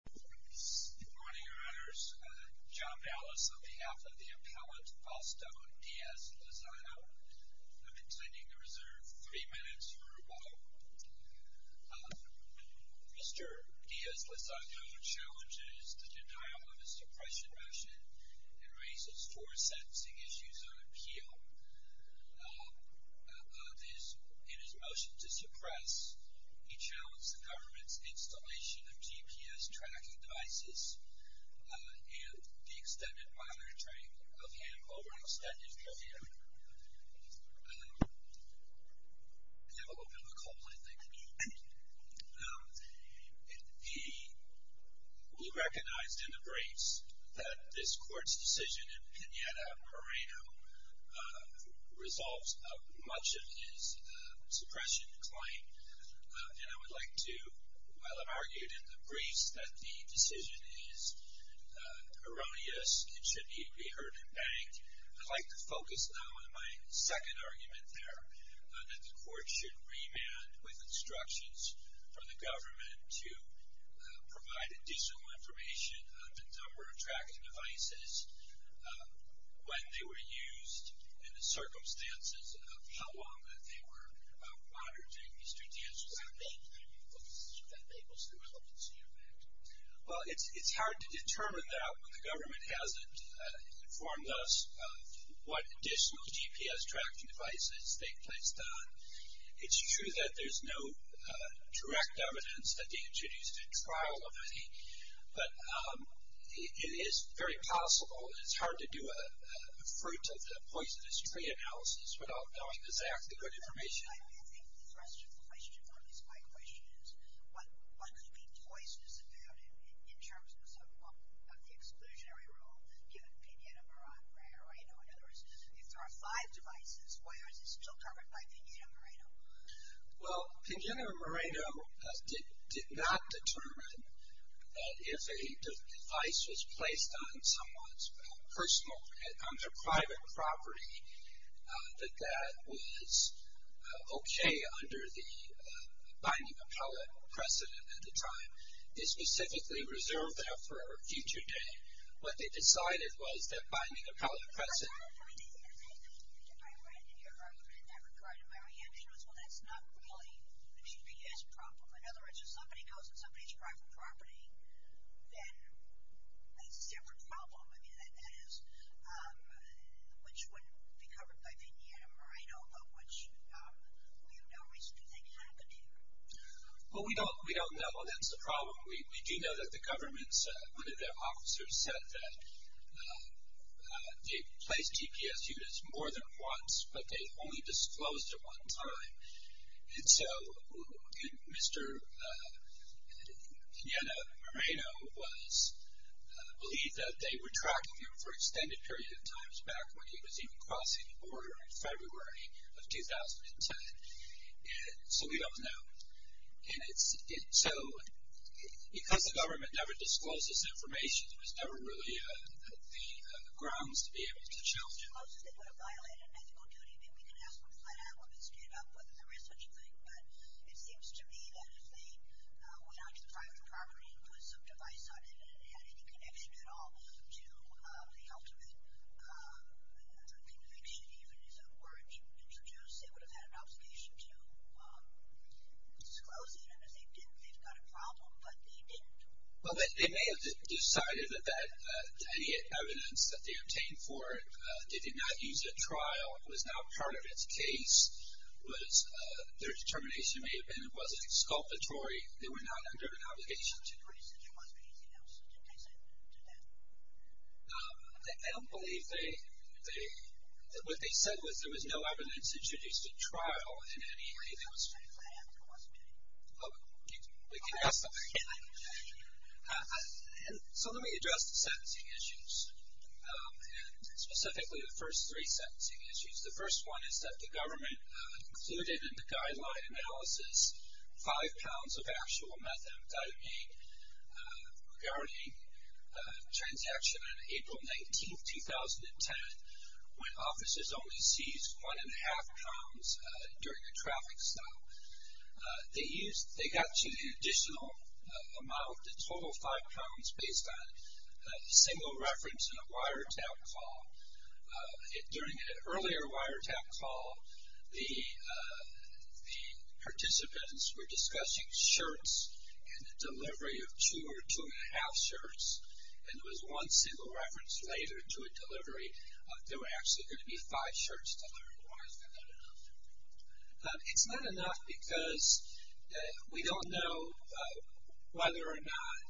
Good morning, your honors. John Ballas on behalf of the appellate Fausto Diaz-Lozano. I'm intending to reserve three minutes for a moment. Mr. Diaz-Lozano challenges the denial of his suppression motion and raises four sentencing issues on appeal. In his motion to suppress, he challenged the government's installation of GPS tracking devices and the extended monitoring of him over an extended period of time. You have a little bit of a cold, I think. He recognized in the briefs that this court's decision in Pineda-Pereno resolves much of his suppression claim, and I would like to, while I've argued in the briefs that the decision is erroneous, it should be re-heard and banked, I'd like to focus now on my second argument there, that the court should remand with instructions from the government to provide additional information on the number of tracking devices, when they were used, and the circumstances of how long that they were monitored during Mr. Diaz-Lozano's time. I think that enables the relevancy of that. Well, it's hard to determine that when the government hasn't informed us of what additional GPS tracking devices they've placed on. It's true that there's no direct evidence that Diaz-Lozano's trial of any, but it is very possible, and it's hard to do a fruit of the poisonous tree analysis without knowing exactly good information. I think the question, at least my question, is what could be poisonous about it in terms of the exclusionary rule given Pignera-Moreno? In other words, if there are five devices, why is it still covered by Pignera-Moreno? Well, Pignera-Moreno did not determine that if a device was placed on someone's personal, on their private property, that that was okay under the binding appellate precedent at the time. They specifically reserved that for a future date. What they decided was that binding appellate precedent. I read in your argument that regard, and my reaction was, well, that's not really a GPS problem. In other words, if somebody goes on somebody's private property, then it's a separate problem. I mean, that is, which wouldn't be covered by Pignera-Moreno, but which we have no reason to think could be. Well, we don't know that's the problem. We do know that the government's, one of their officers said that they placed GPS units more than once, but they only disclosed it one time. And so, Mr. Pignera-Moreno was believed that they were tracking him for an extended period of time, back when he was even crossing the border in February of 2010. And so, we don't know. And so, because the government never discloses information, there's never really the grounds to be able to challenge it. If they disclosed it, they would have violated an ethical duty. I mean, we can ask them to find out when they stand up whether there is such a thing, but it seems to me that if they went out to the private property and put some device on it and it had any connection at all to the ultimate conviction, even if it were to be introduced, they would have had an obligation to disclose it. And if they didn't, they've got a problem, but they didn't. Well, they may have decided that any evidence that they obtained for it, they did not use at trial. It was not part of its case. Their determination may have been it wasn't exculpatory. They were not under an obligation to do that. I don't believe they, what they said was there was no evidence introduced at trial in any way. So let me address the sentencing issues, and specifically the first three sentencing issues. The first one is that the government included in the guideline analysis five pounds of actual methamphetamine regarding a transaction on April 19, 2010, when officers only seized one-and-a-half pounds during a traffic stop. They got you the additional amount, the total five pounds, based on a single reference in a wiretap call. During an earlier wiretap call, the participants were discussing shirts and the delivery of two or two-and-a-half shirts, and there was one single reference later to a delivery. There were actually going to be five shirts delivered. Why is that not enough? It's not enough because we don't know whether or not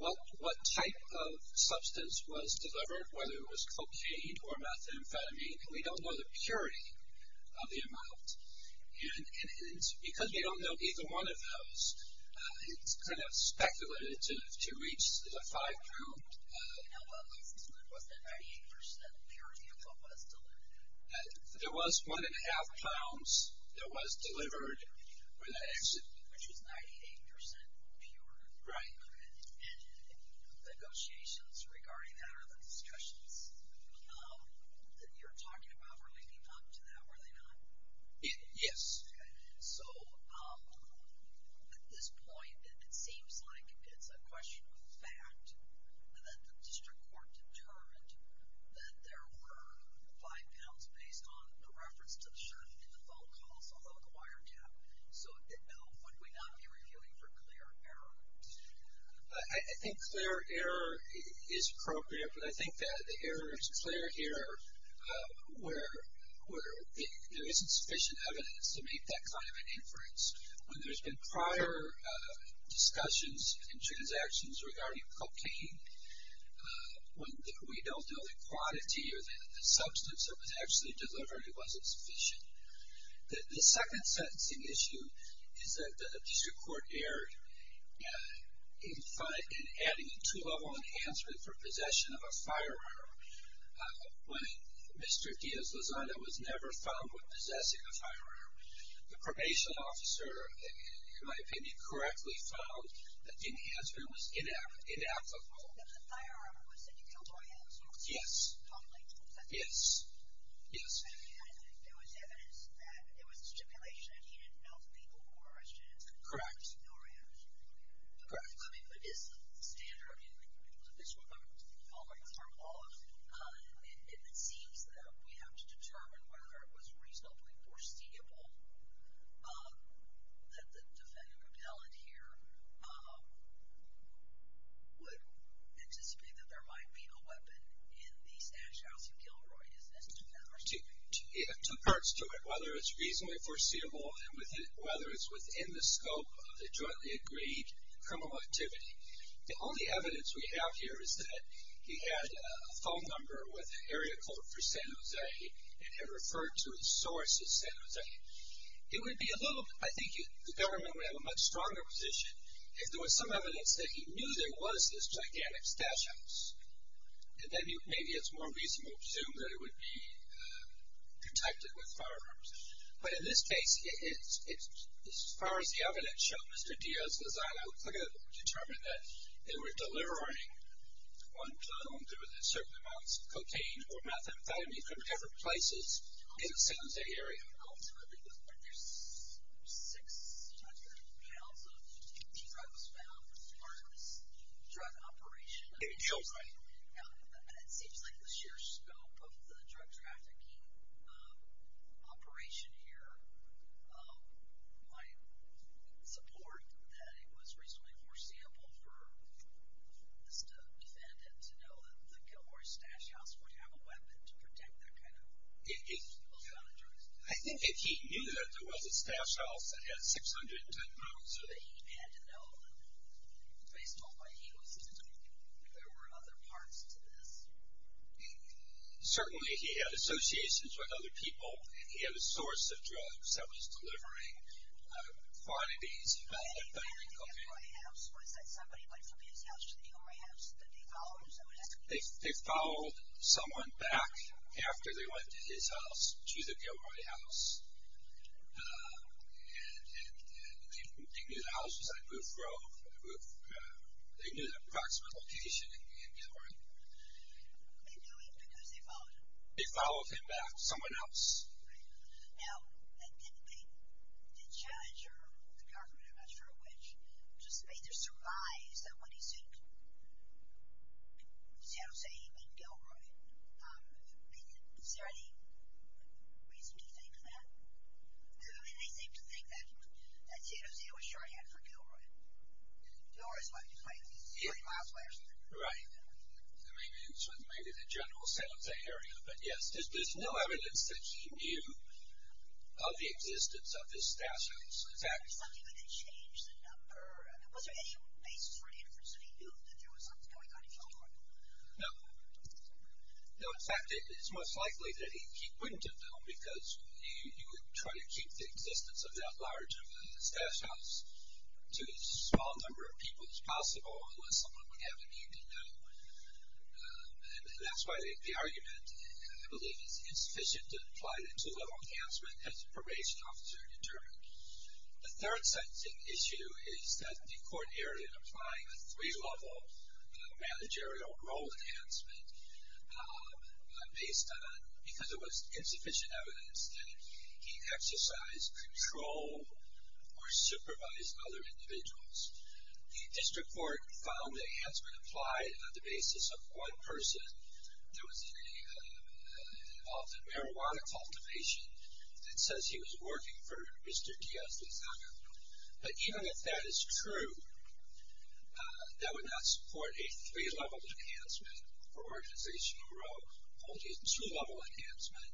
what type of substance was delivered, whether it was cocaine or methamphetamine, and we don't know the purity of the amount. And because we don't know either one of those, it's kind of speculated to reach the five-pound level. Was that 98% purity of what was delivered? There was one-and-a-half pounds that was delivered when that exited. Which was 98% pure. Right. And the negotiations regarding that or the discussions that you're talking about were leading up to that, were they not? Yes. Okay. So at this point, it seems like it's a question of fact that the district court determined that there were five pounds based on the reference to the shirt in the phone calls, although the wiretap. So, Bill, would we not be reviewing for clear error? I think clear error is appropriate, but I think that the error is clear here where there isn't sufficient evidence to make that kind of an inference. When there's been prior discussions and transactions regarding cocaine, when we don't know the quantity or the substance that was actually delivered, it wasn't sufficient. The second sentencing issue is that the district court erred in adding a two-level enhancement for possession of a firearm. When Mr. Diaz-Lazada was never found with possessing a firearm, the probation officer, in my opinion, correctly found that the enhancement was inapplicable. So the firearm was that you killed Orange? Yes. Totally? Yes. Yes. And there was evidence that there was a stipulation that he didn't know the people who were arrested and that he didn't know Orange? Correct. Correct. I mean, but is the standard? I mean, this is what I'm following up on. It seems that we have to determine whether it was reasonably foreseeable that the defendant appellant here would anticipate that there might be a weapon in the stash house in Gilroy, isn't it? Two parts to it, whether it's reasonably foreseeable and whether it's within the scope of the jointly agreed criminal activity. The only evidence we have here is that he had a phone number with an area court for San Jose and had referred to the source of San Jose. It would be a little, I think the government would have a much stronger position if there was some evidence that he knew there was this gigantic stash house. And then maybe it's more reasonable to assume that it would be protected with firearms. But in this case, as far as the evidence shows, Mr. Diaz-Gonzalez, I would look at it and determine that they were delivering one clone. There was a certain amount of cocaine or methamphetamine from different places in the San Jose area. There's 600 pounds of drugs found as part of this drug operation. In Gilroy. It seems like the sheer scope of the drug trafficking operation here might support that it was reasonably foreseeable for Mr. Defendant to know that the Gilroy stash house would have a weapon to protect that kind of amount of drugs. I think if he knew that there was a stash house that had 610 pounds, so that he had to know, based on what he was assuming, that there were other parts to this. Certainly he had associations with other people, and he had a source of drugs that was delivering quantities of methamphetamine and cocaine. They followed someone back after they went to his house, to the Gilroy house, and they knew the house beside Booth Grove. They knew the approximate location in Gilroy. They knew him because they followed him. They followed him back to someone else. Now, the judge or the governor, I'm not sure which, just made the surmise that when he said San Jose, he meant Gilroy. Is there any reason to think that? I mean, they seem to think that San Jose was shorthand for Gilroy. Gilroy is like 30 miles away or something. Right. I mean, it's sort of maybe the general sense of the area, but yes, there's no evidence that he knew of the existence of this stash house. Was there something that changed the number? Was there any basis for an inference that he knew that there was something going on in Gilroy? No. No, in fact, it's most likely that he wouldn't have known because you would try to keep the existence of that large of a stash house to as small a number of people as possible unless someone would have a need to know. And that's why the argument, I believe, is insufficient to apply the two-level enhancement as a probation officer determined. The third sentencing issue is that the court erred in applying the three-level managerial role enhancement because it was insufficient evidence that he exercised control or supervised other individuals. The district court found the enhancement applied on the basis of one person that was involved in marijuana cultivation that says he was working for Mr. Diaz-Lizaga. But even if that is true, that would not support a three-level enhancement for organization or role, only a two-level enhancement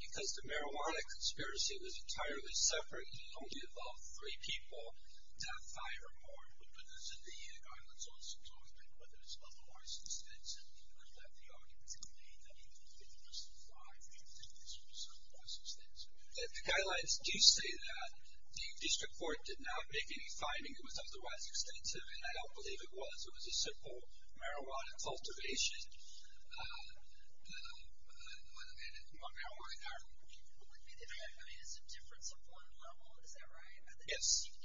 because the marijuana conspiracy was entirely separate. He only involved three people, not five or more. But there's an EIG, I was also talking about, that it's otherwise insufficient. I'll let the audience complain. I mean, it was five and this was otherwise extensive. The guidelines do say that the district court did not make any finding it was otherwise extensive, and I don't believe it was. It was a simple marijuana cultivation. I don't know whether you want marijuana or not. I mean, it's a difference of one level, is that right? Yes. I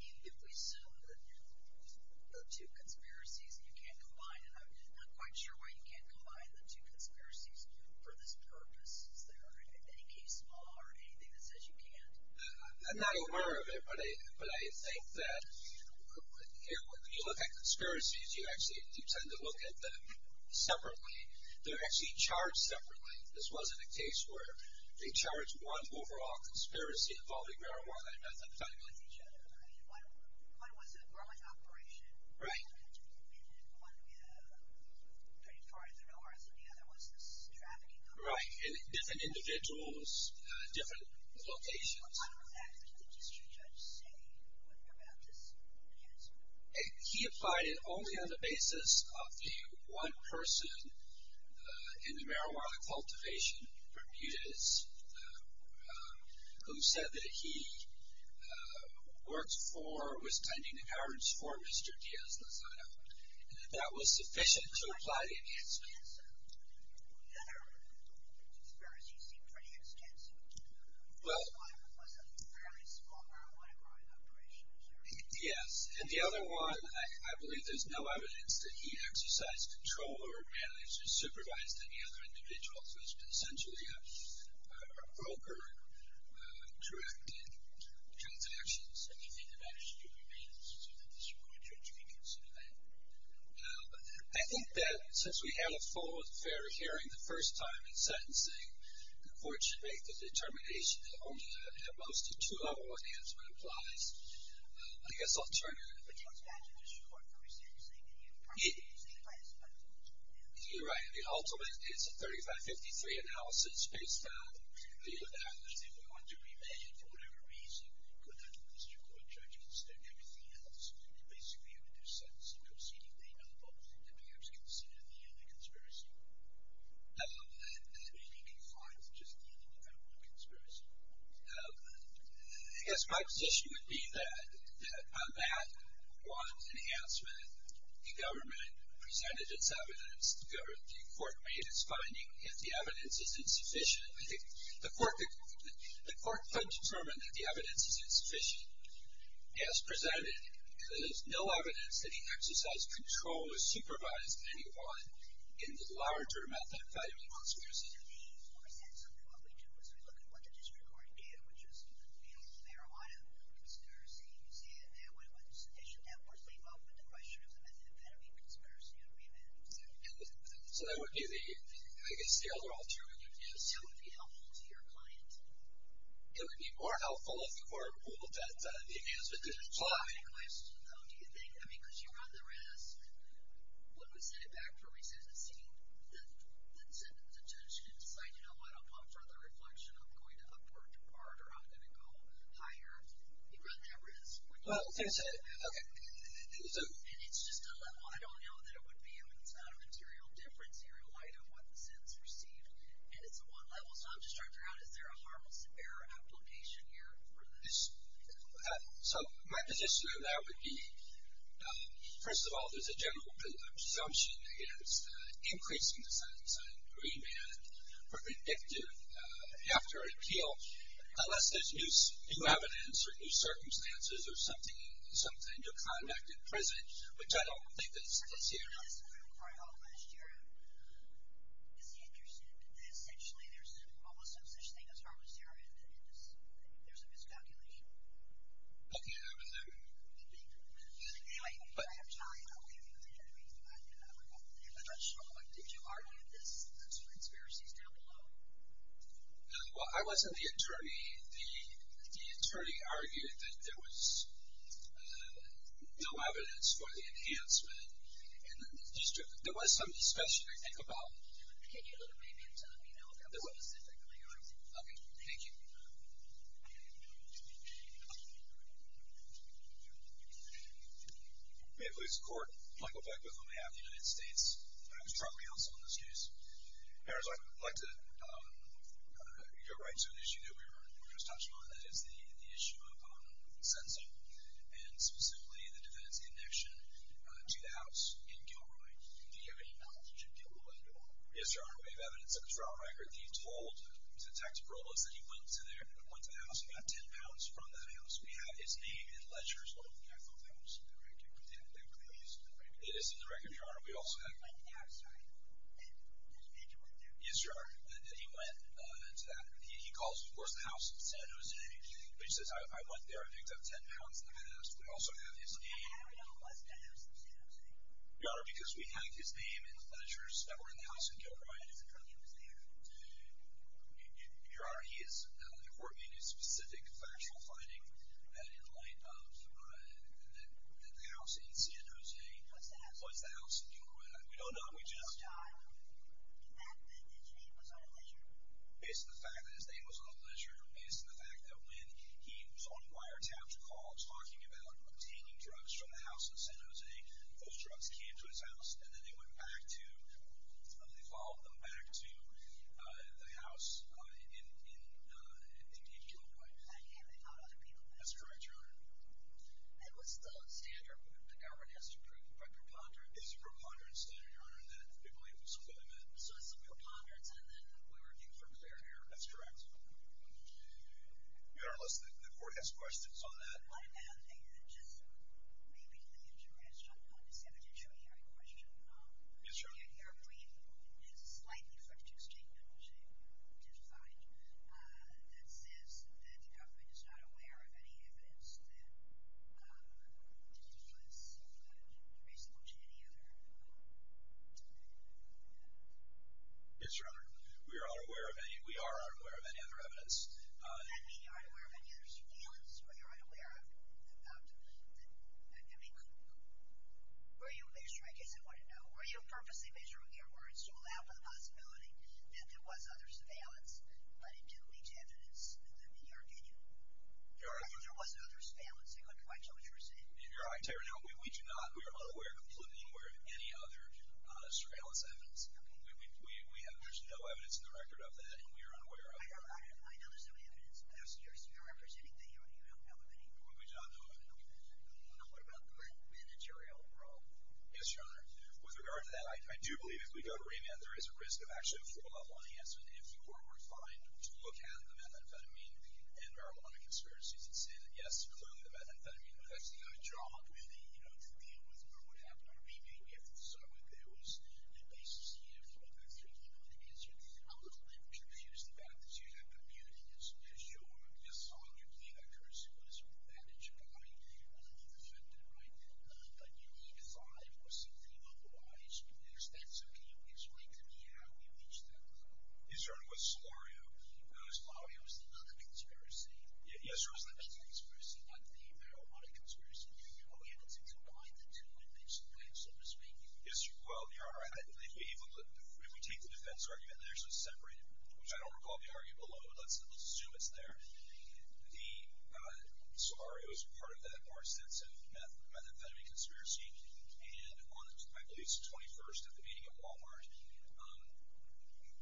mean, if we assume that there are two conspiracies and you can't combine them, I'm not quite sure why you can't combine the two conspiracies for this purpose. Is there any case law or anything that says you can't? I'm not aware of it, but I think that when you look at conspiracies, you actually tend to look at them separately. They're actually charged separately. This wasn't a case where they charged one overall conspiracy involving marijuana and methamphetamine. One was a growing operation. Right. And one was pretty far to the north, and the other was this trafficking company. Right. And different individuals, different locations. What kind of an act did the district judge say about this case? He applied it only on the basis of the one person in the marijuana cultivation, Bermudez, who said that he was finding the courage for Mr. Diaz-Lozada, and that that was sufficient to apply the enhancement. The other conspiracies seem pretty extensive. One was a fairly small marijuana growing operation. Yes, and the other one, I believe there's no evidence that he exercised control or managed to supervise any other individuals. It was essentially a broker-directed transaction, so he didn't manage to do the maintenance. So the district court judge may consider that. I think that since we had a full and fair hearing the first time in sentencing, the court should make the determination that only a most to two-level enhancement applies. I guess I'll turn it over to you. You're right. The ultimate is a 35-53 analysis based on the evidence. If we want to remand for whatever reason, could that district court judge consider everything else? Basically, it would do sentencing proceeding. They know both. They'd be able to consider the other conspiracy. That may be confined to just the independent conspiracy. I guess my position would be that on that one enhancement, the government presented its evidence. The court made its finding. If the evidence isn't sufficient, I think the court could determine that the evidence isn't sufficient. As presented, there's no evidence that he exercised control or supervised anyone in the larger method of valuing conspiracy. What we do is we look at what the district court did, which is the marijuana conspiracy. You see it there. What does the district network leave up with the question of the method of valuing conspiracy and remand? I guess the other alternative is? It still would be helpful to your client. It would be more helpful if the court ruled that the enhancement didn't apply. I have a question, though. Do you think, because you run the risk, when we send it back for recidivism, the judge can decide, you know what, I'll pump further reflection. I'm going to upward depart or I'm going to go higher. You run that risk. Well, I think I said it. Okay. And it's just a level. I don't know that it would be, and it's not a material difference here in light of what the sentence received. And it's a one level. So I'm just trying to figure out, is there a harmless error application here for this? So my position on that would be, first of all, there's a general presumption against increasing the sentence on remand for vindictive after an appeal unless there's new evidence or new circumstances or something, and you're convicted in prison, which I don't think is the scenario. I think that's what we were trying to find out last year. It's interesting. Essentially, there's almost no such thing as harmless error in this. There's a miscalculation. Okay. Anyway, I have time. I'll leave you with that. I'm not sure. Did you argue this in the two experiences down below? Well, I wasn't the attorney. The attorney argued that there was no evidence for the enhancement, and there was some discussion, I think, about it. Can you look maybe into, you know, if that was specifically argued? Okay. Thank you. May it please the Court. Michael Beckwith on behalf of the United States. I was probably also on this case. I'd like to go right to an issue that we were just touching on, and that is the issue of sentencing and specifically the defendant's connection to the house in Gilroy. Do you have any knowledge of Gilroy? Yes, Your Honor. We have evidence of his trial record. He told Detective Robles that he went to there, went to the house, and got ten pounds from that house. We have his name in ledgers. I thought that was in the record. That really is in the record. It is in the record, Your Honor. We also have. I think that's right. His major went there. Yes, Your Honor. He went to that. He calls, of course, the house in San Jose, which says, I went there, I picked up ten pounds from that house. We also have his name. How do we know it was the house in San Jose? Your Honor, because we have his name in ledgers that were in the house in Gilroy. His attorney was there. Your Honor, the court made a specific factual finding in light of the house in San Jose. What's the house in Gilroy? We don't know. We just. Is that the name was on a ledger? Based on the fact that his name was on a ledger, based on the fact that when he was on a wiretap call talking about obtaining drugs from the house in San Jose, those drugs came to his house and then they went back to, they followed them back to the house in Gilroy. And they found other people there. That's correct, Your Honor. And what's the standard that the government has approved by preponderance? It's a preponderance standard, Your Honor, that we believe was something they met. So it's a preponderance and then we're looking for clear error. That's correct. Your Honor, let's. The court has questions on that. One other thing that just may be of interest on this evidentiary question. Yes, Your Honor. The Air Force has a slightly friction statement, which they did find, that says that the government is not aware of any evidence that was reasonable to any other. Yes, Your Honor. We are unaware of any other evidence. Does that mean you're unaware of any other surveillance? Or you're unaware of, I mean, were you, in the case I want to know, were you purposely measuring your words to allow for the possibility that there was other surveillance, but it didn't lead to evidence in your opinion? Your Honor. Or there was other surveillance. I couldn't quite tell what you were saying. Your Honor, I tell you right now, we do not, we are unaware of any other surveillance evidence. We have, there's no evidence in the record of that and we are unaware of it. I know there's no evidence, but I'm serious. You're representing that you don't have any. Well, good job, though. Okay. What about the managerial role? Yes, Your Honor. With regard to that, I do believe if we go to remand, there is a risk of actually a full-blown announcement. If you were refined to look at the methamphetamine and marijuana conspiracies and say that, yes, clearly the methamphetamine effects did a good job really, you know, to deal with what would happen or be made, if so, if there was a basis here for the methamphetamine, I'm a little bit confused about this. You have the beauty as your son, your play doctor, as your manager, but how do you know you're going to be defended? Right? But you need a sign or something otherwise. Yes. That's okay. You can explain to me how you reached that. Yes, Your Honor. With Solorio. Solorio is another conspiracy. Yes, Your Honor. It's another conspiracy, not the marijuana conspiracy. How were you able to combine the two in this way, so to speak? Well, Your Honor, if we take the defense argument there, so it's separated, which I don't recall the argument below, but let's assume it's there. Solorio is part of that more extensive methamphetamine conspiracy, and on, I believe, the 21st at the meeting at Wal-Mart,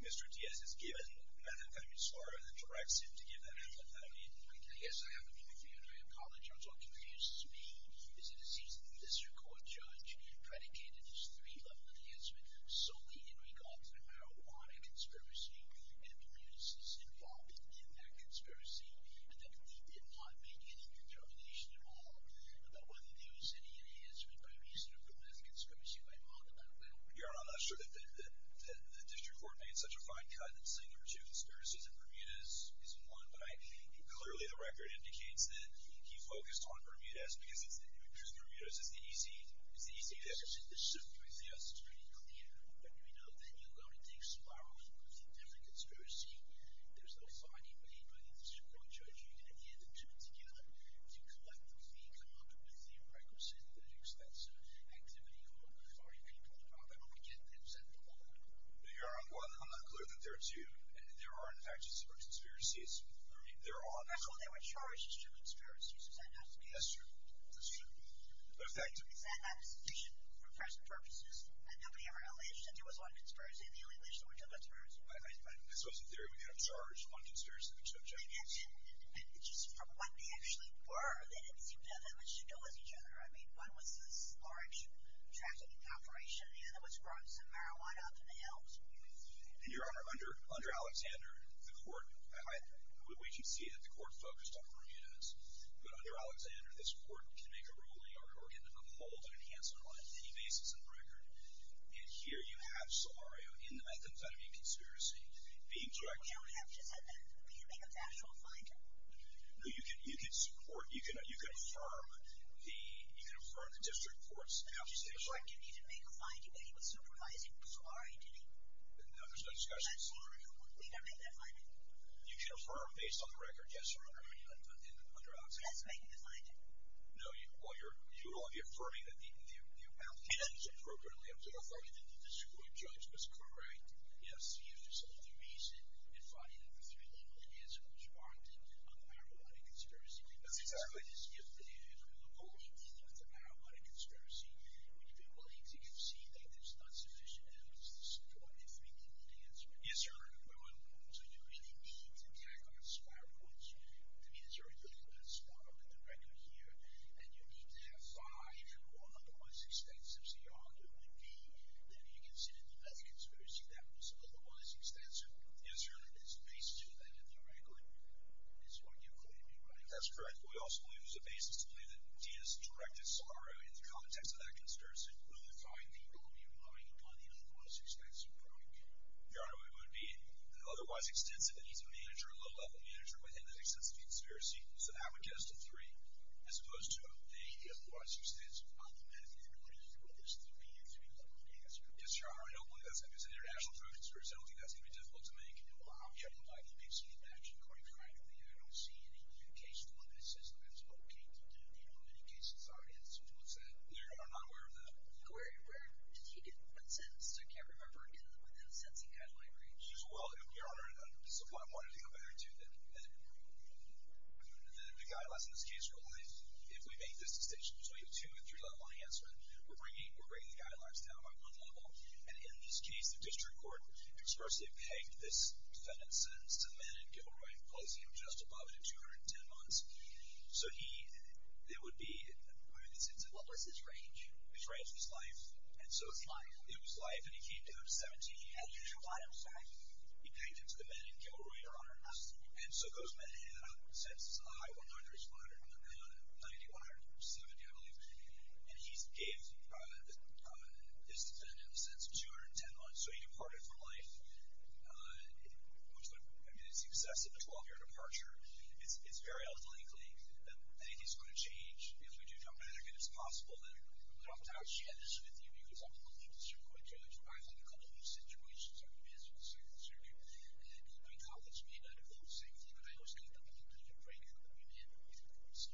Mr. Diaz has given methamphetamine to Solorio and then directs him to give the methamphetamine. I guess I have to be confused. Your Honor, I apologize. What confuses me is that it seems that the district court judge predicated this three-level enhancement solely in regard to the marijuana conspiracy and Bermuda's involvement in that conspiracy, and that he did not make any determination at all about whether there was any enhancement by reason of the meth conspiracy. Am I wrong about that? Your Honor, I'm not sure that the district court made such a fine cut in saying there were two conspiracies and Bermuda is one. Clearly, the record indicates that he focused on Bermuda's, because Bermuda's is the E.C. Your Honor, while I'm not clear that there are two, and there are, in fact, two conspiracies, I mean, there are. That's what they were charged, two conspiracies. Is that not the case? That's true. That's true. But is that not sufficient for personal purposes? Had nobody ever alleged that there was one conspiracy, and the only allegation was that there were two conspiracies? I suppose the theory would be that I'm charged on conspiracy of the district court judge. And just from what they actually were, they didn't seem to have that much to do with each other. I mean, one was this large trafficking operation, and the other was growing some marijuana up in the hills. And, Your Honor, under Alexander, the court, we can see that the court focused on Bermuda's. But under Alexander, this court can make a ruling or can uphold an enhancement on any basis in the record. And here you have Solario in the methamphetamine conspiracy being charged. You don't have to say that. You can make a factual finding. No, you can support, you can affirm the district court's accusation. The district court didn't even make a finding, but he was supervising Solario, didn't he? No, there's no discussion. He was supervising Solario. We don't make that finding. You can affirm based on the record, yes, Your Honor, under Alexander. That's making the finding. No, well, you're affirming that the appellate judge appropriately affirmed it. You're affirming that the district court judge was correct. Yes, he is. There's another reason. It's funny that for three years, it hasn't responded on the marijuana conspiracy. That's exactly right. The only thing with the marijuana conspiracy, when you've been willing to concede that there's not sufficient evidence to support it, three people can answer it. Yes, Your Honor. So you really need to tack on spark points. To me, there's already a little bit of spark in the record here, and you need to have five or otherwise extensive. So your argument would be that if you consider the medical conspiracy, that was otherwise extensive. Yes, Your Honor. It's the basis of that in the record. It's what you're claiming, right? That's correct. We also believe there's a basis to believe that Diaz directed Solario in the context of that conspiracy. Would the five people be relying upon the otherwise extensive product? Your Honor, it would be an otherwise extensive. It needs a manager, a low-level manager, within that extensive conspiracy. So that would get us to three, as opposed to a otherwise extensive. On the medical end, what do you think would be your three-point answer? Yes, Your Honor. I don't believe that's going to be an international drug conspiracy. I don't think that's going to be difficult to make. Well, I don't like mixing and matching quite frankly. I don't see any new case form that says that's okay to do. I'm not aware of that. Where did he get that sentence? I can't remember in the sentencing guideline range. Your Honor, this is what I wanted to get back to, that the guidelines in this case rely, if we make this decision, between a two- and three-level enhancement, we're bringing the guidelines down by one level. And in this case, the district court expressly pegged this defendant's sentence to the man in Gilroy, placing him just above it at 210 months. So there would be, what was his range? His range was life. It was life. It was life. And he came down to 17. He had a usual life expectancy. He pegged it to the man in Gilroy, Your Honor. And so those men had a high 100, 90, 170, I believe. And he gave this defendant a sentence of 210 months. So he departed from life. I mean, it's excessive, a 12-year departure. It's very unlikely that anything's going to change. If we do come back and it's possible, then we're off to a good start. I'm not sharing this with you because I'm a local district court judge. I've had a couple of situations where I've been in a district court and my colleagues may not have felt the same thing, but I always tell them, if you don't break it, you're going to be in with the courts.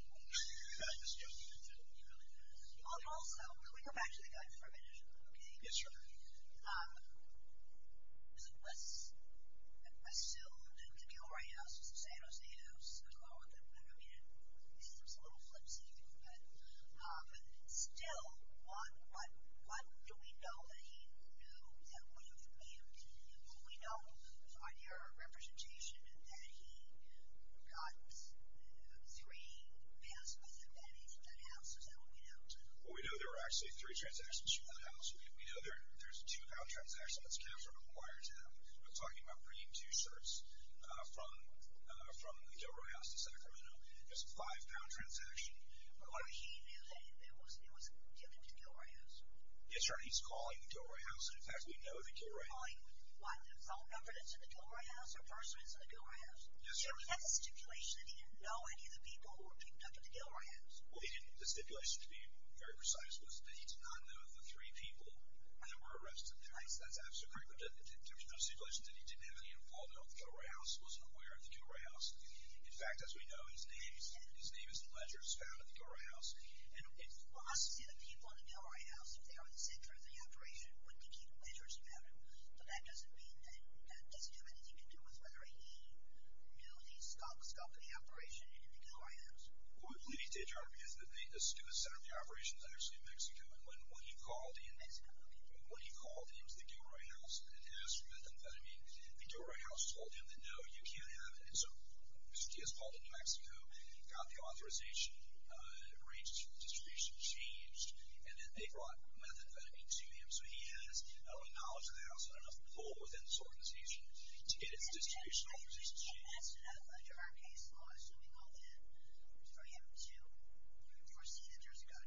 Also, can we go back to the guidelines for a minute, okay? Yes, Your Honor. Was it assumed that the Gilroy house was a San Jose house? I don't know. I mean, it seems a little flimsy. But still, what do we know that he knew that would have been? Do we know, on your representation, that he got three passports and anything from that house? Is that what we know? Well, we know there were actually three transactions from that house. We know there's a two-pound transaction that's kind of sort of a wiretap. We're talking about bringing two shirts from the Gilroy house to Sacramento. There's a five-pound transaction. Or he knew that it was given to the Gilroy house? Yes, Your Honor. He's calling the Gilroy house, and, in fact, we know the Gilroy house. He's calling the phone number that's in the Gilroy house or person that's in the Gilroy house? Yes, Your Honor. So he has a stipulation that he didn't know any of the people who were picked up at the Gilroy house? Well, the stipulation, to be very precise, was that he did not know the three people that were arrested there. That's absolutely correct. There was no stipulation that he didn't have any involvement with the Gilroy house, wasn't aware of the Gilroy house. In fact, as we know, his name is the ledger that's found at the Gilroy house. We'll also see the people at the Gilroy house, if they were the center of the operation, would be people ledgers found. But that doesn't mean that doesn't have anything to do with whether he knew the scope of the operation in the Gilroy house. What we believe, Your Honor, is that the student center of the operation is actually in Mexico. And when he called into the Gilroy house and asked for methamphetamine, the Gilroy house told him that no, you can't have it. And so he was called into Mexico, got the authorization, arranged for the distribution, changed, and then they brought methamphetamine to him. So he has enough knowledge of the house and enough pull within this organization to get his distribution authorization changed. So he has enough under our case law, assuming all that, for him to foresee that there's a gun. For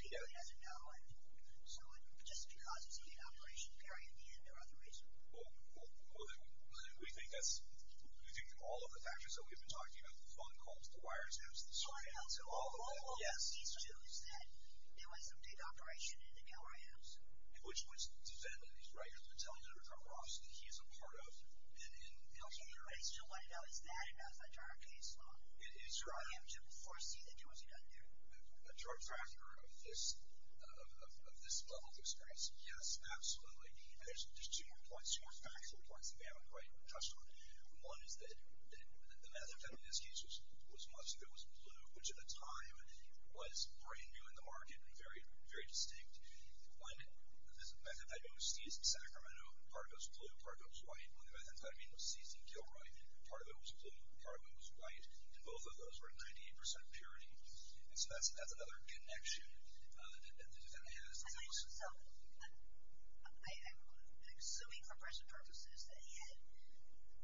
people he doesn't know. So just because it's a big operation period in the end, there are other reasons. Well, then we think that's, we think that all of the factors that we've been talking about, the phone calls, the wiretaps, the surveillance, all of that. All he needs to do is that there was a big operation in the Gilroy house. Which was defended, right? He is a part of. Okay, but I still want to know, is that enough under our case law? For him to foresee that there was a gun there? A direct factor of this level of experience, yes, absolutely. And there's two more points, two more factual points that we haven't quite touched on. One is that the methamphetamine, in this case, was mustard. It was blue, which at the time was brand new in the market and very distinct. One, the methamphetamine was seized in Sacramento. Part of it was blue, part of it was white. When the methamphetamine was seized in Gilroy, part of it was blue, part of it was white. And both of those were at 98% purity. And so that's another connection that he has. So, I'm assuming for present purposes that he had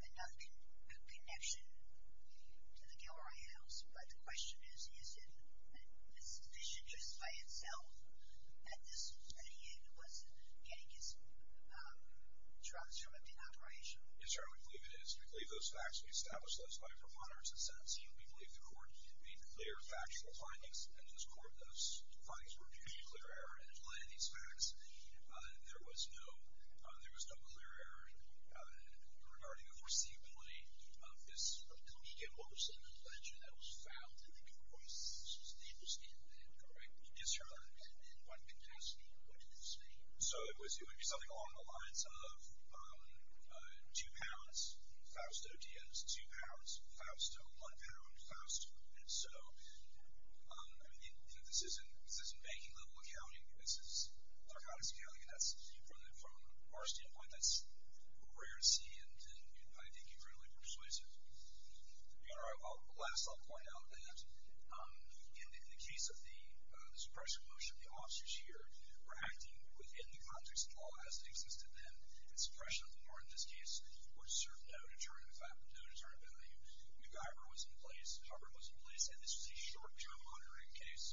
enough connection to the Gilroy house. But the question is, is it just by itself that he was getting his drugs from an operation? Yes, Your Honor, we believe it is. We believe those facts were established by a preponderance of sentencing. We believe the court made clear factual findings. And in this court, those findings were viewed as a clear error. And in light of these facts, there was no clear error regarding the foreseeability of this comedic emotion and ledger that was found in the Gilroy stable stand there, correct? Yes, Your Honor. And in what capacity? What did it say? So, it would be something along the lines of two pounds, Fausto Diaz, two pounds, Fausto, one pound, Fausto. And so, I mean, this isn't banking-level accounting. This is narcotics accounting. From our standpoint, that's rare to see, and I think incredibly persuasive. Your Honor, last I'll point out that in the case of the suppression motion, the officers here were acting within the context of law as it existed then. And suppression of law in this case would serve no deterrent value. MacGyver was in place. Hubbard was in place. And this was a short-term monitoring case.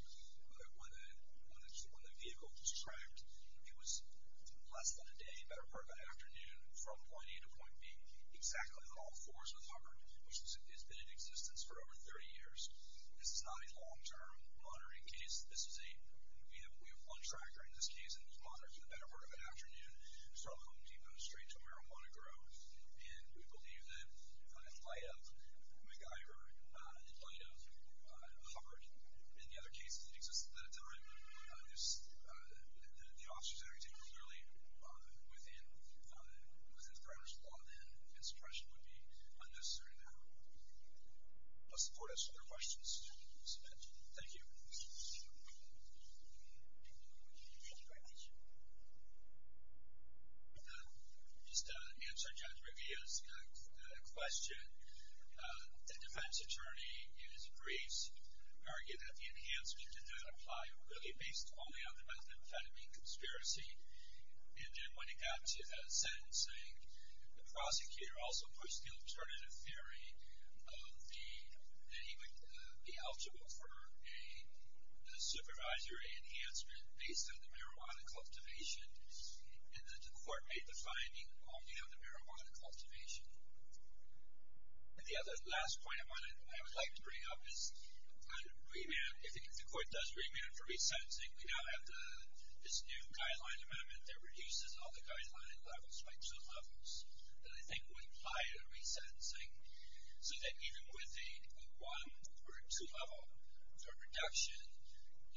When the vehicle was tracked, it was less than a day, better part of an afternoon, from point A to point B, exactly on all fours with Hubbard, which has been in existence for over 30 years. This is not a long-term monitoring case. We have one tracker in this case, and it was monitored for the better part of an afternoon. It was from Home Depot straight to Marijuana Grove. And we believe that in light of MacGyver, in light of Hubbard, and the other cases that exist at that time, the officers are acting clearly within the parameters of law, and suppression would be unnecessary now. Does the Court have some other questions to submit? Thank you. Thank you very much. Just to answer Judge Riviera's question, the defense attorney in his briefs argued that the enhancement did not apply, really based only on the methamphetamine conspiracy. And then when it got to sentencing, the prosecutor also pushed the alternative theory that he would be eligible for a supervisory enhancement based on the marijuana cultivation. And then the Court made the finding only on the marijuana cultivation. And the other last point of mine that I would like to bring up is on remand. If the Court does remand for resentencing, we now have this new guideline amendment that reduces all the guideline levels by two levels that I think would imply a resentencing, so that even with a one or a two-level for reduction,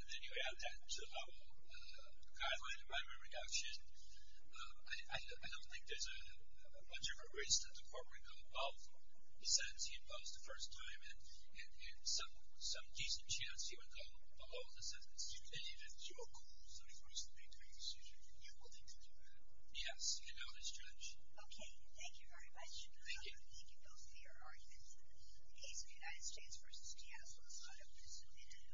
and then you add that two-level guideline amendment reduction, I don't think there's much of a risk that the Court would go above the sentencing imposed the first time and some decent chance you would go below the sentencing. And even your Court, so the Court is to make a decision, you will need to do that. Yes. And now it is judged. Okay. Thank you very much. Thank you. Thank you both for your arguments. The case of the United States v. Seattle is now open to submittal.